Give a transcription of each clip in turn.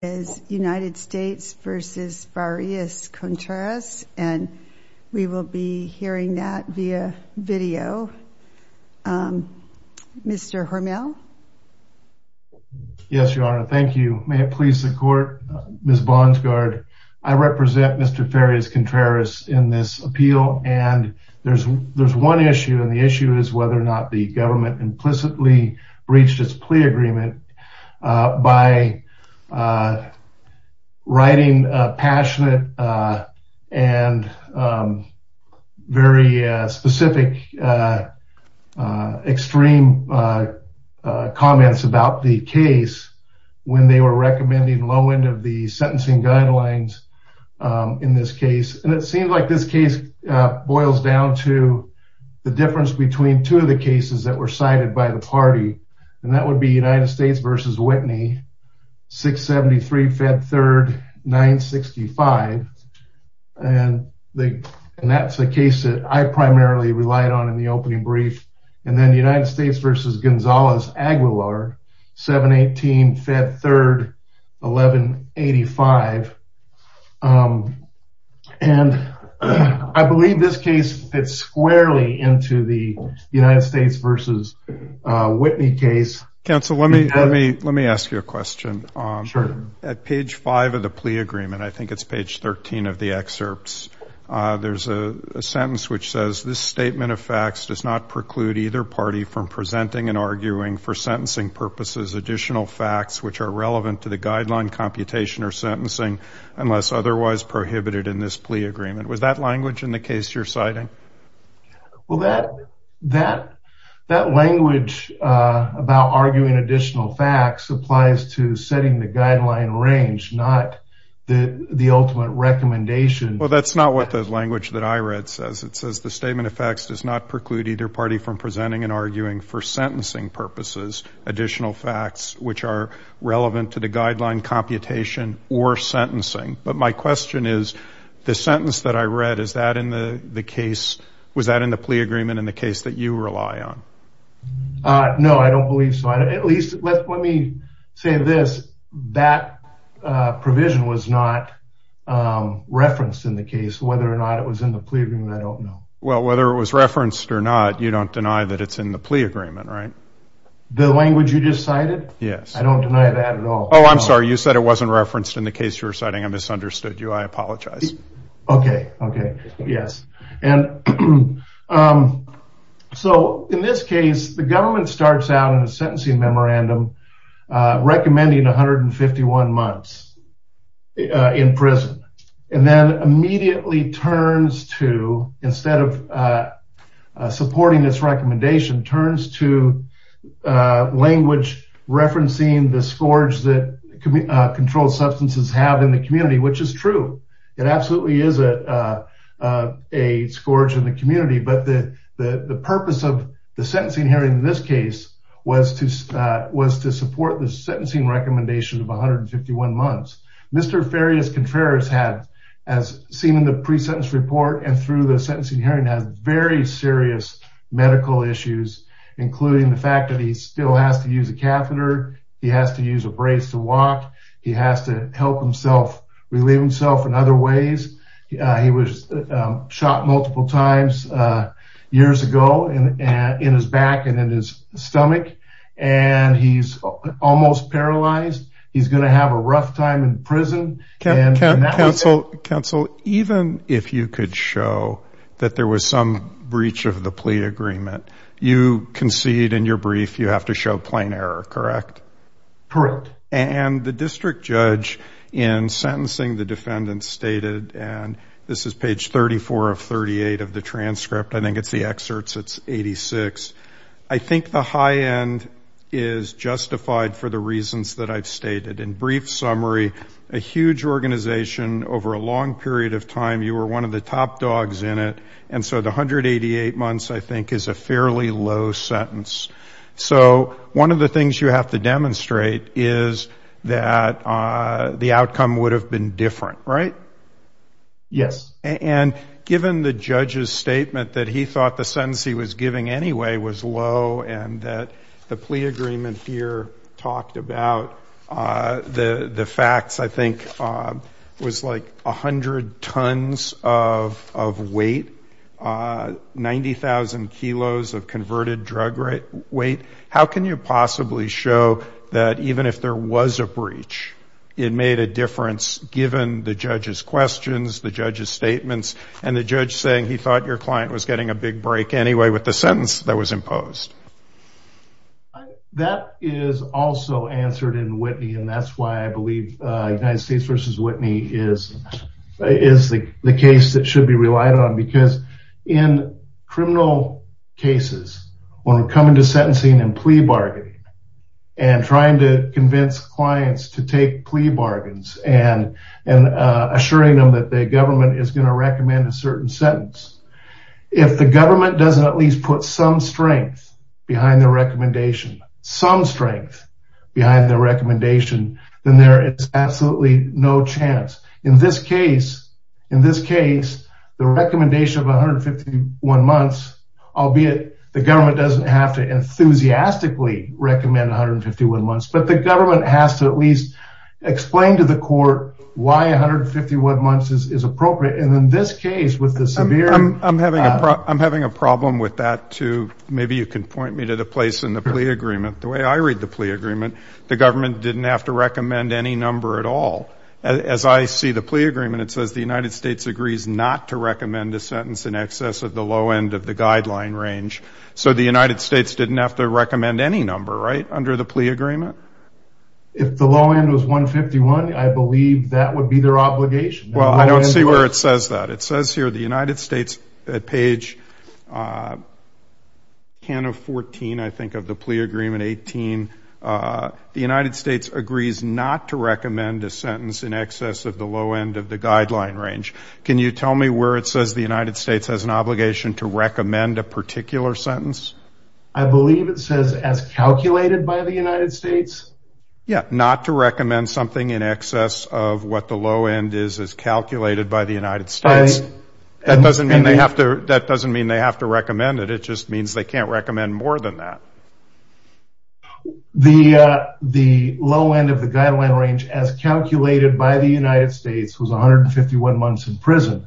as United States v. Farias-Contreras, and we will be hearing that via video. Mr. Hormel? Yes, Your Honor. Thank you. May it please the Court, Ms. Bonsgard. I represent Mr. Farias-Contreras in this appeal, and there's one issue, and the issue is whether or not the government implicitly breached its plea agreement by writing passionate and very specific, extreme comments about the case when they were recommending low-end of the sentencing guidelines in this case, and it seems like this case boils down to the difference between two of the cases that were cited by the party, and that would be United States v. Whitney, 673 Fed 3rd 965, and that's the case that I primarily relied on in the opening brief, and then United States v. Gonzalez Aguilar, 718 Fed 3rd 1185, and I believe this case fits squarely to the United States v. Whitney case. Counsel, let me ask you a question. Sure. At page five of the plea agreement, I think it's page 13 of the excerpts, there's a sentence which says, this statement of facts does not preclude either party from presenting and arguing for sentencing purposes additional facts which are relevant to the guideline computation or sentencing unless otherwise prohibited in this plea agreement. Was that language in the case you're citing? Well, that language about arguing additional facts applies to setting the guideline range, not the ultimate recommendation. Well, that's not what the language that I read says. It says, the statement of facts does not preclude either party from presenting and arguing for sentencing purposes additional facts which are relevant to the guideline computation or sentencing, but my question is, the sentence that I read, was that in the plea agreement in the case that you rely on? No, I don't believe so. At least, let me say this, that provision was not referenced in the case. Whether or not it was in the plea agreement, I don't know. Well, whether it was referenced or not, you don't deny that it's in the plea agreement, right? The language you just cited? Yes. I don't deny that at all. Oh, I'm sorry. You said it wasn't understood. I apologize. Okay. Yes. In this case, the government starts out in a sentencing memorandum recommending 151 months in prison and then immediately turns to, instead of supporting this recommendation, turns to language referencing the scourge that controlled substances have in the community, which is true. It absolutely is a scourge in the community, but the purpose of the sentencing hearing in this case was to support the sentencing recommendation of 151 months. Mr. Farias Contreras has, as seen in the pre-sentence report and through the sentencing hearing, has very serious medical issues, including the fact that he still has to use a catheter, he has to use a brace to walk, he has to help himself, relieve himself in other ways. He was shot multiple times years ago in his back and in his stomach and he's almost paralyzed. He's going to have a rough time in prison. Counsel, even if you could show that there was some breach of the transcript. Correct. And the district judge in sentencing the defendant stated, and this is page 34 of 38 of the transcript, I think it's the excerpts, it's 86. I think the high end is justified for the reasons that I've stated. In brief summary, a huge organization over a long period of time, you were one of the top dogs in it, and so the 188 months, I think, is a fairly low sentence. So one of the things you have to demonstrate is that the outcome would have been different, right? Yes. And given the judge's statement that he thought the sentence he was giving anyway was low and that the plea agreement here talked about the facts, I think, was like 100 tons of weight, 90,000 kilos of converted drug weight. How can you possibly show that even if there was a breach, it made a difference given the judge's questions, the judge's statements, and the judge saying he thought your client was getting a big break anyway with the sentence that was imposed? That is also answered in Whitney, and that's why I believe United States versus Whitney is the case that should be relied on because in criminal cases, when we come into sentencing and plea bargaining and trying to convince clients to take plea bargains and assuring them that the government is going to recommend a certain sentence, if the government doesn't at least put some strength behind the recommendation, some strength behind the recommendation, then there is absolutely no chance. In this case, the recommendation of 151 months, albeit the government doesn't have to enthusiastically recommend 151 months, but the government has to at least explain to the court why 151 months is appropriate. And in this case with the severe... I'm having a problem with that too. Maybe you can point me to the place in the plea agreement. The way I read the plea agreement, the government didn't have to recommend any number at all. As I see the plea agreement, it says the United States agrees not to recommend a sentence in excess of the low end of the guideline range. So the United States didn't have to recommend any number, right, under the plea agreement? If the low end was 151, I believe that would be their obligation. Well, I don't see where it says that. It says here the United States at page 10 of 14, I think of the plea agreement 18, the United States agrees not to recommend a sentence in excess of the low end of the guideline range. Can you tell me where it says the United States has an obligation to recommend a particular sentence? I believe it says as calculated by the United States. Yeah, not to recommend something in excess of what the low end is as calculated by the United States. That doesn't mean they have to recommend it. It just means they can't recommend more than that. The low end of the guideline range as calculated by the United States was 151 months in prison.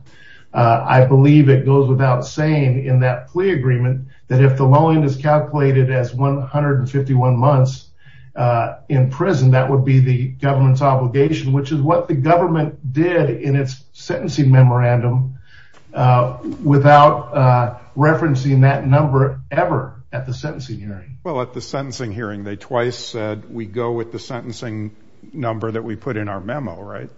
I believe it goes without saying in that plea agreement that if the low end is calculated as 151 months in prison, that would be the government's did in its sentencing memorandum without referencing that number ever at the sentencing hearing. Well, at the sentencing hearing, they twice said we go with the sentencing number that we put in our memo, right?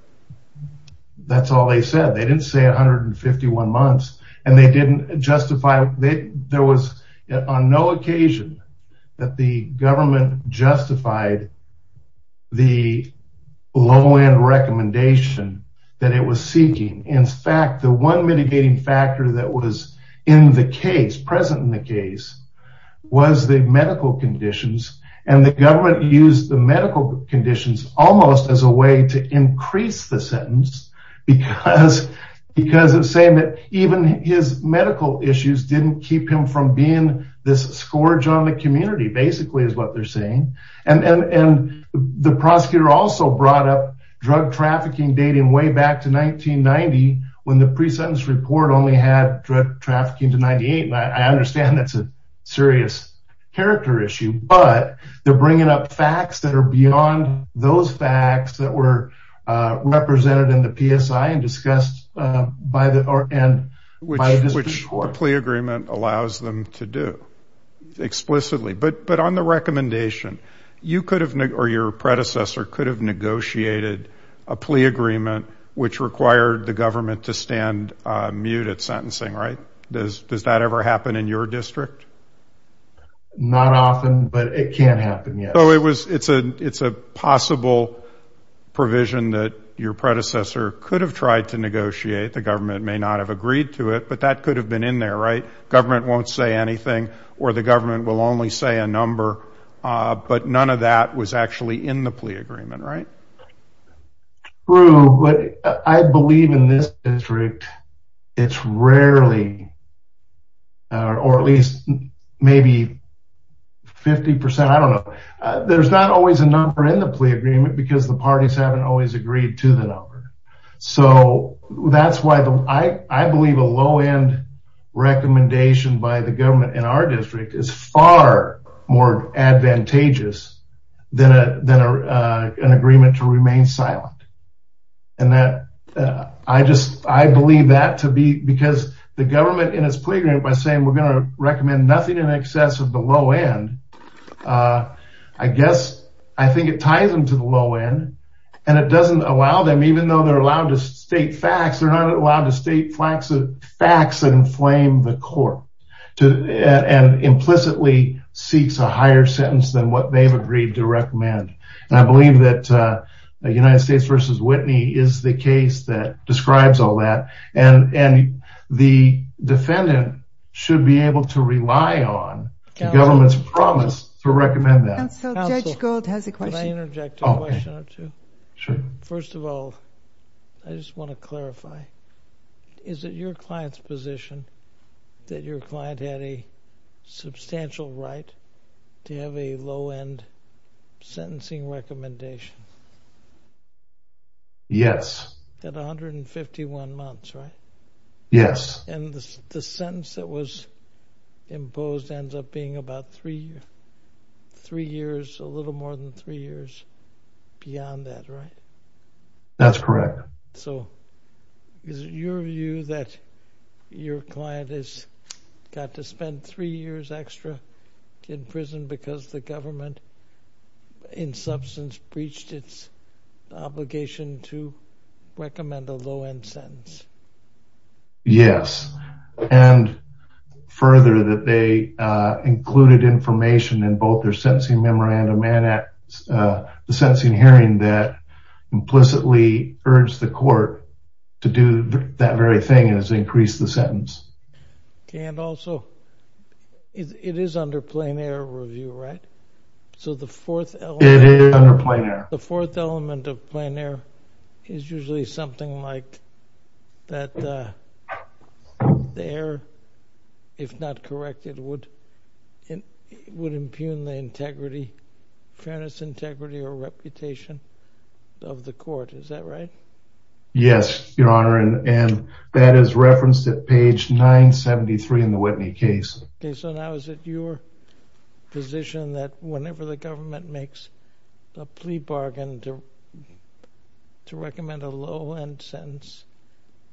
That's all they said. They didn't say 151 months, and they didn't recommend that it was seeking. In fact, the one mitigating factor that was in the case, present in the case, was the medical conditions. And the government used the medical conditions almost as a way to increase the sentence because of saying that even his medical issues didn't keep him from being this scourge on the community, basically is what they're saying. And the prosecutor also brought up drug trafficking dating way back to 1990 when the pre-sentence report only had drug trafficking to 98. I understand that's a serious character issue, but they're bringing up facts that are beyond those facts that were represented in the PSI and discussed by the district court. Which the plea agreement allows them to do explicitly. But on the recommendation, you or your predecessor could have negotiated a plea agreement which required the government to stand mute at sentencing, right? Does that ever happen in your district? Not often, but it can happen, yes. So it's a possible provision that your predecessor could have tried to negotiate, the government may not have agreed to it, but that could have been in there, right? Or the government will only say a number, but none of that was actually in the plea agreement, right? True, but I believe in this district, it's rarely, or at least maybe 50%, I don't know. There's not always a number in the plea agreement because the parties haven't always agreed to the far more advantageous than an agreement to remain silent. And that, I just, I believe that to be, because the government in its plea agreement by saying we're going to recommend nothing in excess of the low end, I guess, I think it ties them to the low end and it doesn't allow them even though they're allowed to state facts, they're not allowed to state facts that inflame the court. And implicitly seeks a higher sentence than what they've agreed to recommend. And I believe that United States versus Whitney is the case that describes all that. And the defendant should be able to rely on the government's promise to recommend that. Counsel, Judge Gold has a question. Can I interject a question or two? Sure. First of all, I just want to clarify, is it your client's position that your client had a substantial right to have a low end sentencing recommendation? Yes. At 151 months, right? Yes. And the sentence that was imposed ends up being about three years, a little more than three years beyond that, right? That's correct. So, is it your view that your client has got to spend three years extra in prison because the government in substance breached its obligation to recommend a low end sentence? Yes. And further that they included information in both their sentencing memorandum and the sentencing hearing that implicitly urged the court to do that very thing and has increased the sentence. And also, it is under plain air review, right? So, the fourth element of plain air is usually something like that the air, if not corrected, would impugn the integrity fairness, integrity, or reputation of the court. Is that right? Yes, your honor. And that is referenced at page 973 in the Whitney case. Okay. So, now is it your position that whenever the government makes a plea bargain to recommend a low end sentence,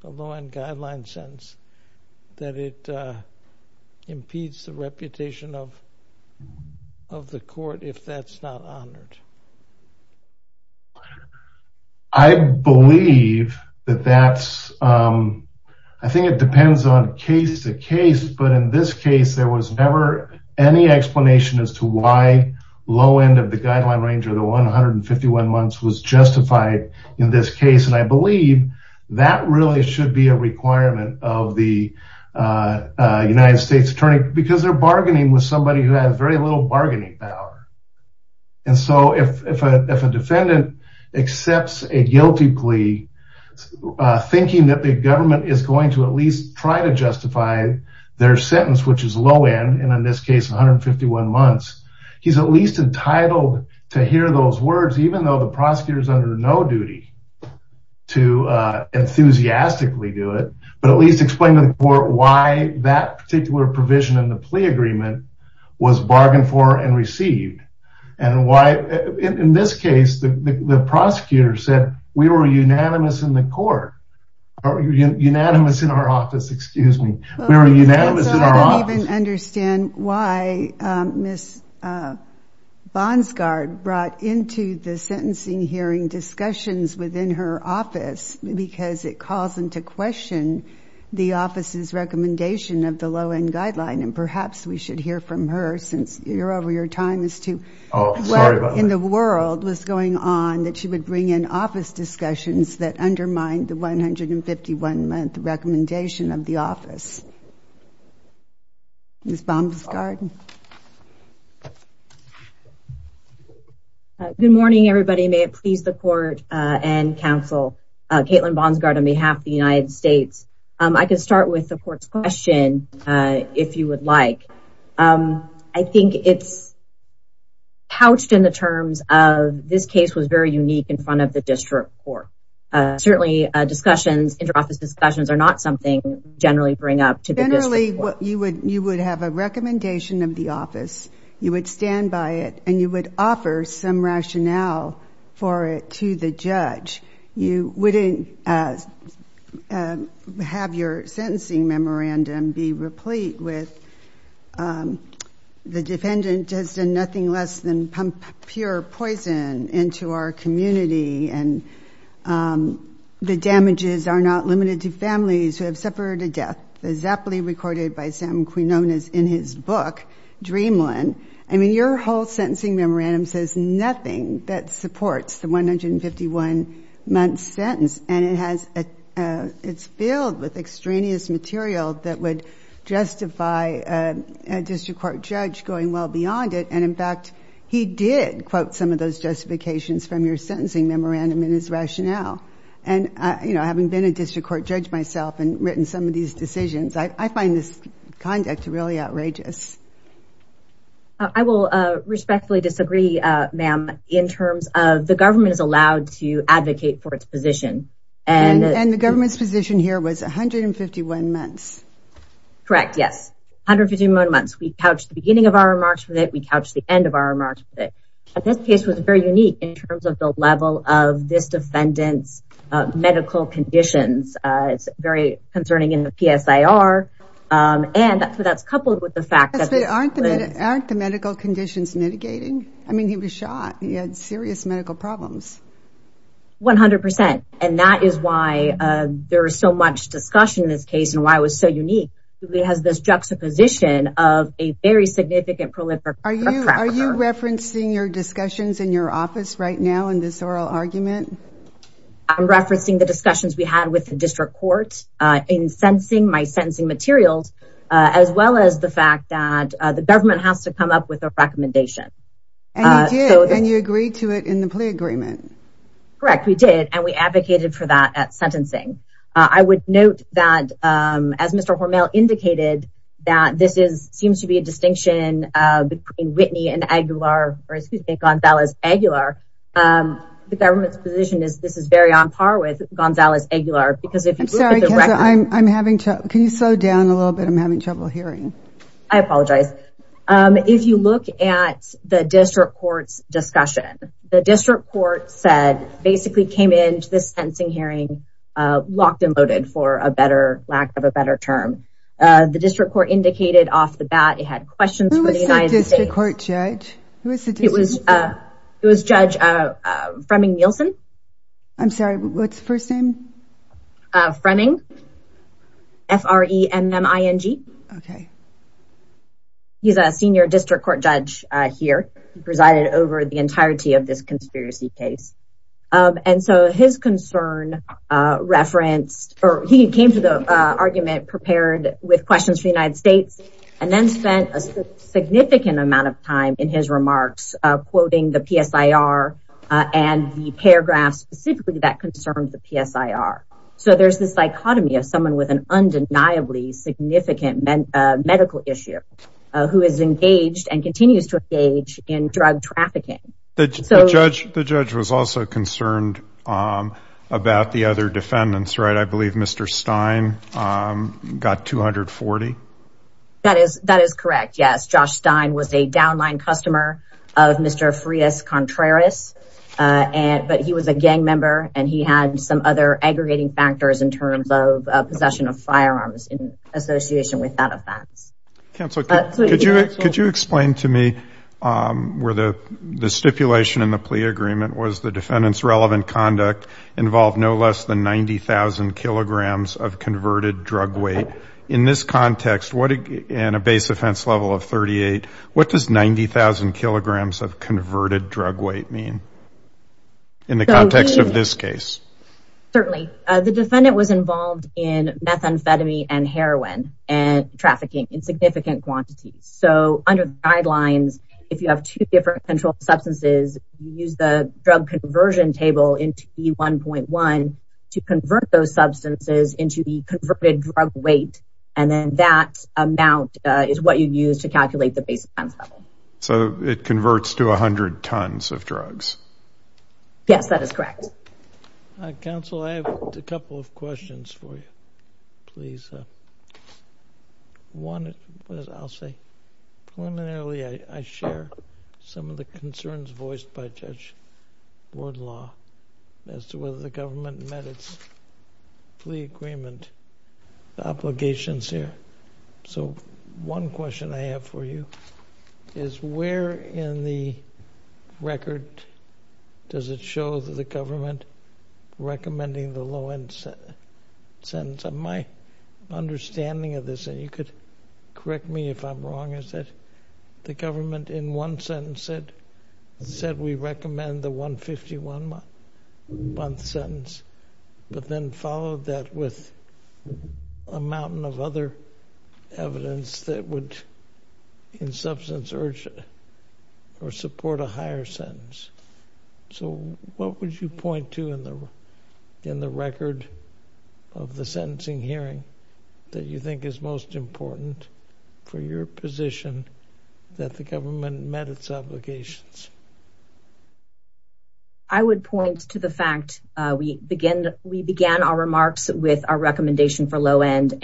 a low end guideline sentence, that it impedes the reputation of the court if that's not honored? I believe that that's, I think it depends on case to case, but in this case, there was never any explanation as to why low end of the guideline range of the 151 months was justified in this case. And I believe that really should be a requirement of the United States attorney because they're bargaining with somebody who has very little bargaining power. And so, if a defendant accepts a guilty plea, thinking that the government is going to at least try to justify their sentence, which is low end, and in this case, 151 months, he's at least entitled to hear those words, even though the prosecutor is under no duty to enthusiastically do it, but at least explain to the court why that particular provision in the plea agreement was bargained for and received. And why, in this case, the prosecutor said we were unanimous in the court, unanimous in our office, excuse me. We were unanimous in our office. I don't even understand why Ms. Bonsgard brought into the sentencing hearing discussions within her office because it caused them to question the office's recommendation of the low end guideline. And perhaps we should hear from her since you're over your time as to what in the world was going on that she would bring in office discussions that undermine the 151 month recommendation of the Ms. Bonsgard. Good morning, everybody. May it please the court and counsel. Caitlin Bonsgard on behalf of the United States. I can start with the court's question, if you would like. I think it's pouched in the terms of this case was very unique in front of the district court. Certainly, discussions, inter-office discussions are not something generally bring up to the recommendation of the office. You would stand by it and you would offer some rationale for it to the judge. You wouldn't have your sentencing memorandum be replete with the defendant has done nothing less than pump pure poison into our community and the damages are not limited to in his book, Dreamland. I mean, your whole sentencing memorandum says nothing that supports the 151 month sentence. And it's filled with extraneous material that would justify a district court judge going well beyond it. And in fact, he did quote some of those justifications from your sentencing memorandum in his rationale. And having been a district court judge myself and find this conduct really outrageous. I will respectfully disagree, ma'am, in terms of the government is allowed to advocate for its position. And the government's position here was 151 months. Correct. Yes. 151 months. We couched the beginning of our remarks with it. We couched the end of our remarks with it. But this case was very unique in terms of the level of this defendant's medical conditions. It's very concerning in the PSIR. And so that's coupled with the fact that aren't the medical conditions mitigating. I mean, he was shot. He had serious medical problems. 100%. And that is why there is so much discussion in this case and why it was so unique. It has this juxtaposition of a very significant prolific. Are you referencing your discussions in your office right now in this oral argument? I'm referencing the discussions we had with the district court in sentencing my sentencing materials, as well as the fact that the government has to come up with a recommendation. And you agreed to it in the plea agreement. Correct. We did. And we advocated for that at sentencing. I would note that as Mr. Hormel indicated, that this is seems to be a distinction between Whitney and Aguilar, or excuse me, Gonzalez Aguilar. The government's position is this is very on par with Gonzalez Aguilar. Because if I'm having to, can you slow down a little bit? I'm having trouble hearing. I apologize. If you look at the district court's discussion, the district court said basically came to this sentencing hearing, locked and loaded for a better lack of a better term. The district court indicated off the bat it had questions for the United States. Who was the district court judge? It was Judge Fremming Nielsen. I'm sorry, what's first name? Fremming. F-R-E-M-M-I-N-G. Okay. He's a senior district court judge here presided over the entirety of this conspiracy case. And so his concern referenced or he came to the argument prepared with questions for the United States, and then spent a significant amount of time in his remarks, quoting the PSIR, and the paragraph specifically that concerned the PSIR. So there's this dichotomy of someone with an undeniably significant medical issue, who is engaged and continues to engage in drug trafficking. The judge was also concerned about the other defendants, right? I believe Mr. Stein got 240. That is correct, yes. Josh Stein was a downline customer of Mr. Frias Contreras, but he was a gang member and he had some other aggregating factors in terms of possession of firearms in association with that offense. Counsel, could you explain to me where the stipulation in the plea agreement was the defendant's relevant conduct involved no less than 90,000 kilograms of converted drug weight. In this context, in a base offense level of 38, what does 90,000 kilograms of converted drug weight mean in the context of this case? Certainly. The defendant was involved in methamphetamine and if you have two different controlled substances, you use the drug conversion table in T1.1 to convert those substances into the converted drug weight, and then that amount is what you use to calculate the base offense level. So it converts to 100 tons of drugs? Yes, that is correct. Counsel, I have a couple of questions for you, please. One, I will say, preliminarily I share some of the concerns voiced by Judge Woodlaw as to whether the government met its plea agreement obligations here. So one question I have for you is where in the record does it show that the government recommending the low-end sentence? My understanding of this, and you could correct me if I'm wrong, is that the government in one sentence said we recommend the 151 month sentence, but then followed that with a mountain of other evidence that would in substance urge or support a higher sentence. So what would you point to in the record of the sentencing hearing that you think is most important for your position that the government met its obligations? I would point to the fact we began our remarks with our recommendation for the low-end,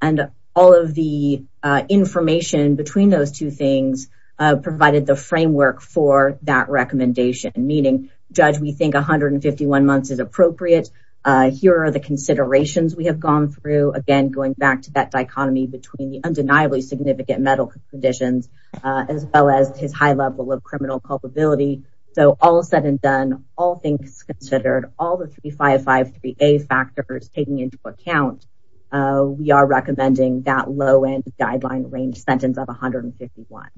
and all of the information between those two things provided the framework for that recommendation, meaning, Judge, we think 151 months is appropriate. Here are the considerations we have gone through, again, going back to that dichotomy between the undeniably significant medical conditions, as well as his high level of criminal culpability. So all said and done, all things considered, all the 3553A factors taken into account, we are recommending that low-end guideline range sentence of 151.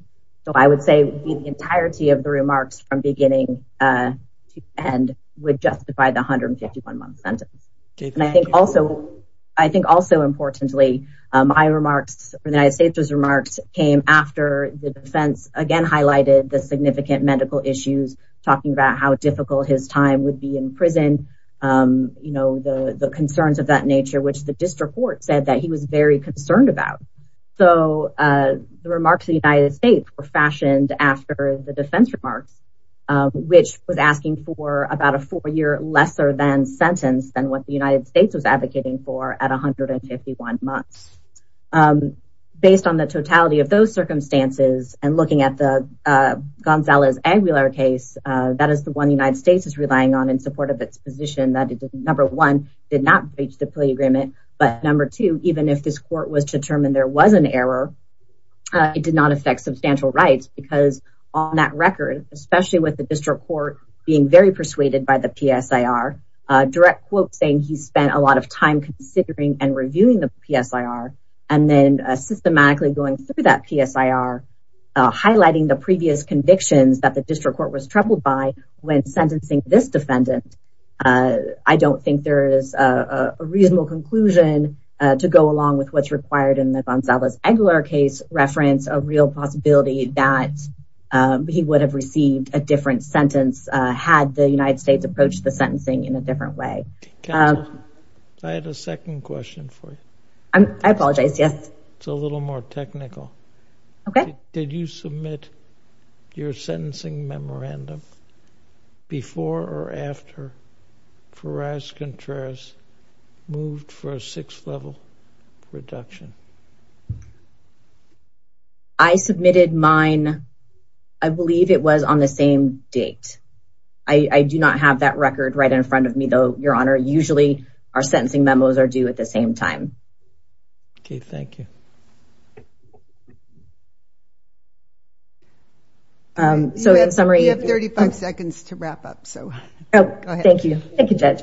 So I would say the entirety of the remarks from beginning to end would justify the 151 month sentence. I think also importantly, my remarks, the United States' remarks came after the defense again highlighted the significant medical issues, talking about how difficult his time would be in prison, you know, the concerns of that nature, which the district court said that he was very concerned about. So the remarks of the United States were fashioned after the defense remarks, which was asking for about a four-year lesser than sentence than what the United States was advocating for at 151 months. Based on the totality of those circumstances and looking at the Gonzalez-Aguilar case, that is the one the United States is relying on in support of its position that it did, number one, did not breach the plea agreement, but number two, even if this court was determined there was an error, it did not affect substantial rights because on that record, especially with the district court being very persuaded by the PSIR, direct quote saying he spent a lot of time considering and then systematically going through that PSIR, highlighting the previous convictions that the district court was troubled by when sentencing this defendant. I don't think there is a reasonable conclusion to go along with what's required in the Gonzalez-Aguilar case reference, a real possibility that he would have received a different sentence had the United States approached the sentencing in a different way. I had a second question for you. I apologize, yes. It's a little more technical. Okay. Did you submit your sentencing memorandum before or after Ferraz-Contreras moved for a sixth level reduction? I submitted mine, I believe it was on the same date. I do not have that record right in front of me, though, Your Honor. Usually our sentencing memos are due at the same time. Okay, thank you. So in summary, you have 35 seconds to wrap up. So thank you. Thank you, Judge.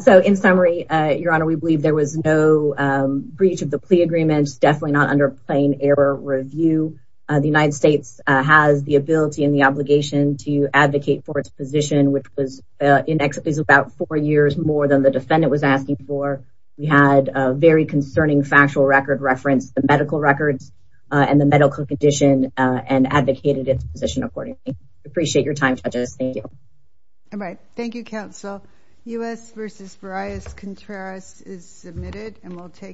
So in summary, Your Honor, we believe there was no breach of the plea agreement, definitely not under plain error review. The United States has the ability and the obligation to advocate for its position, which was in excess of about four years more than the defendant was asking for. We had a very concerning factual record reference, the medical records and the medical condition, and advocated its position accordingly. Appreciate your time, judges. Thank you. All right. Thank you, counsel. U.S. v. Ferraz-Contreras is submitted, and we'll take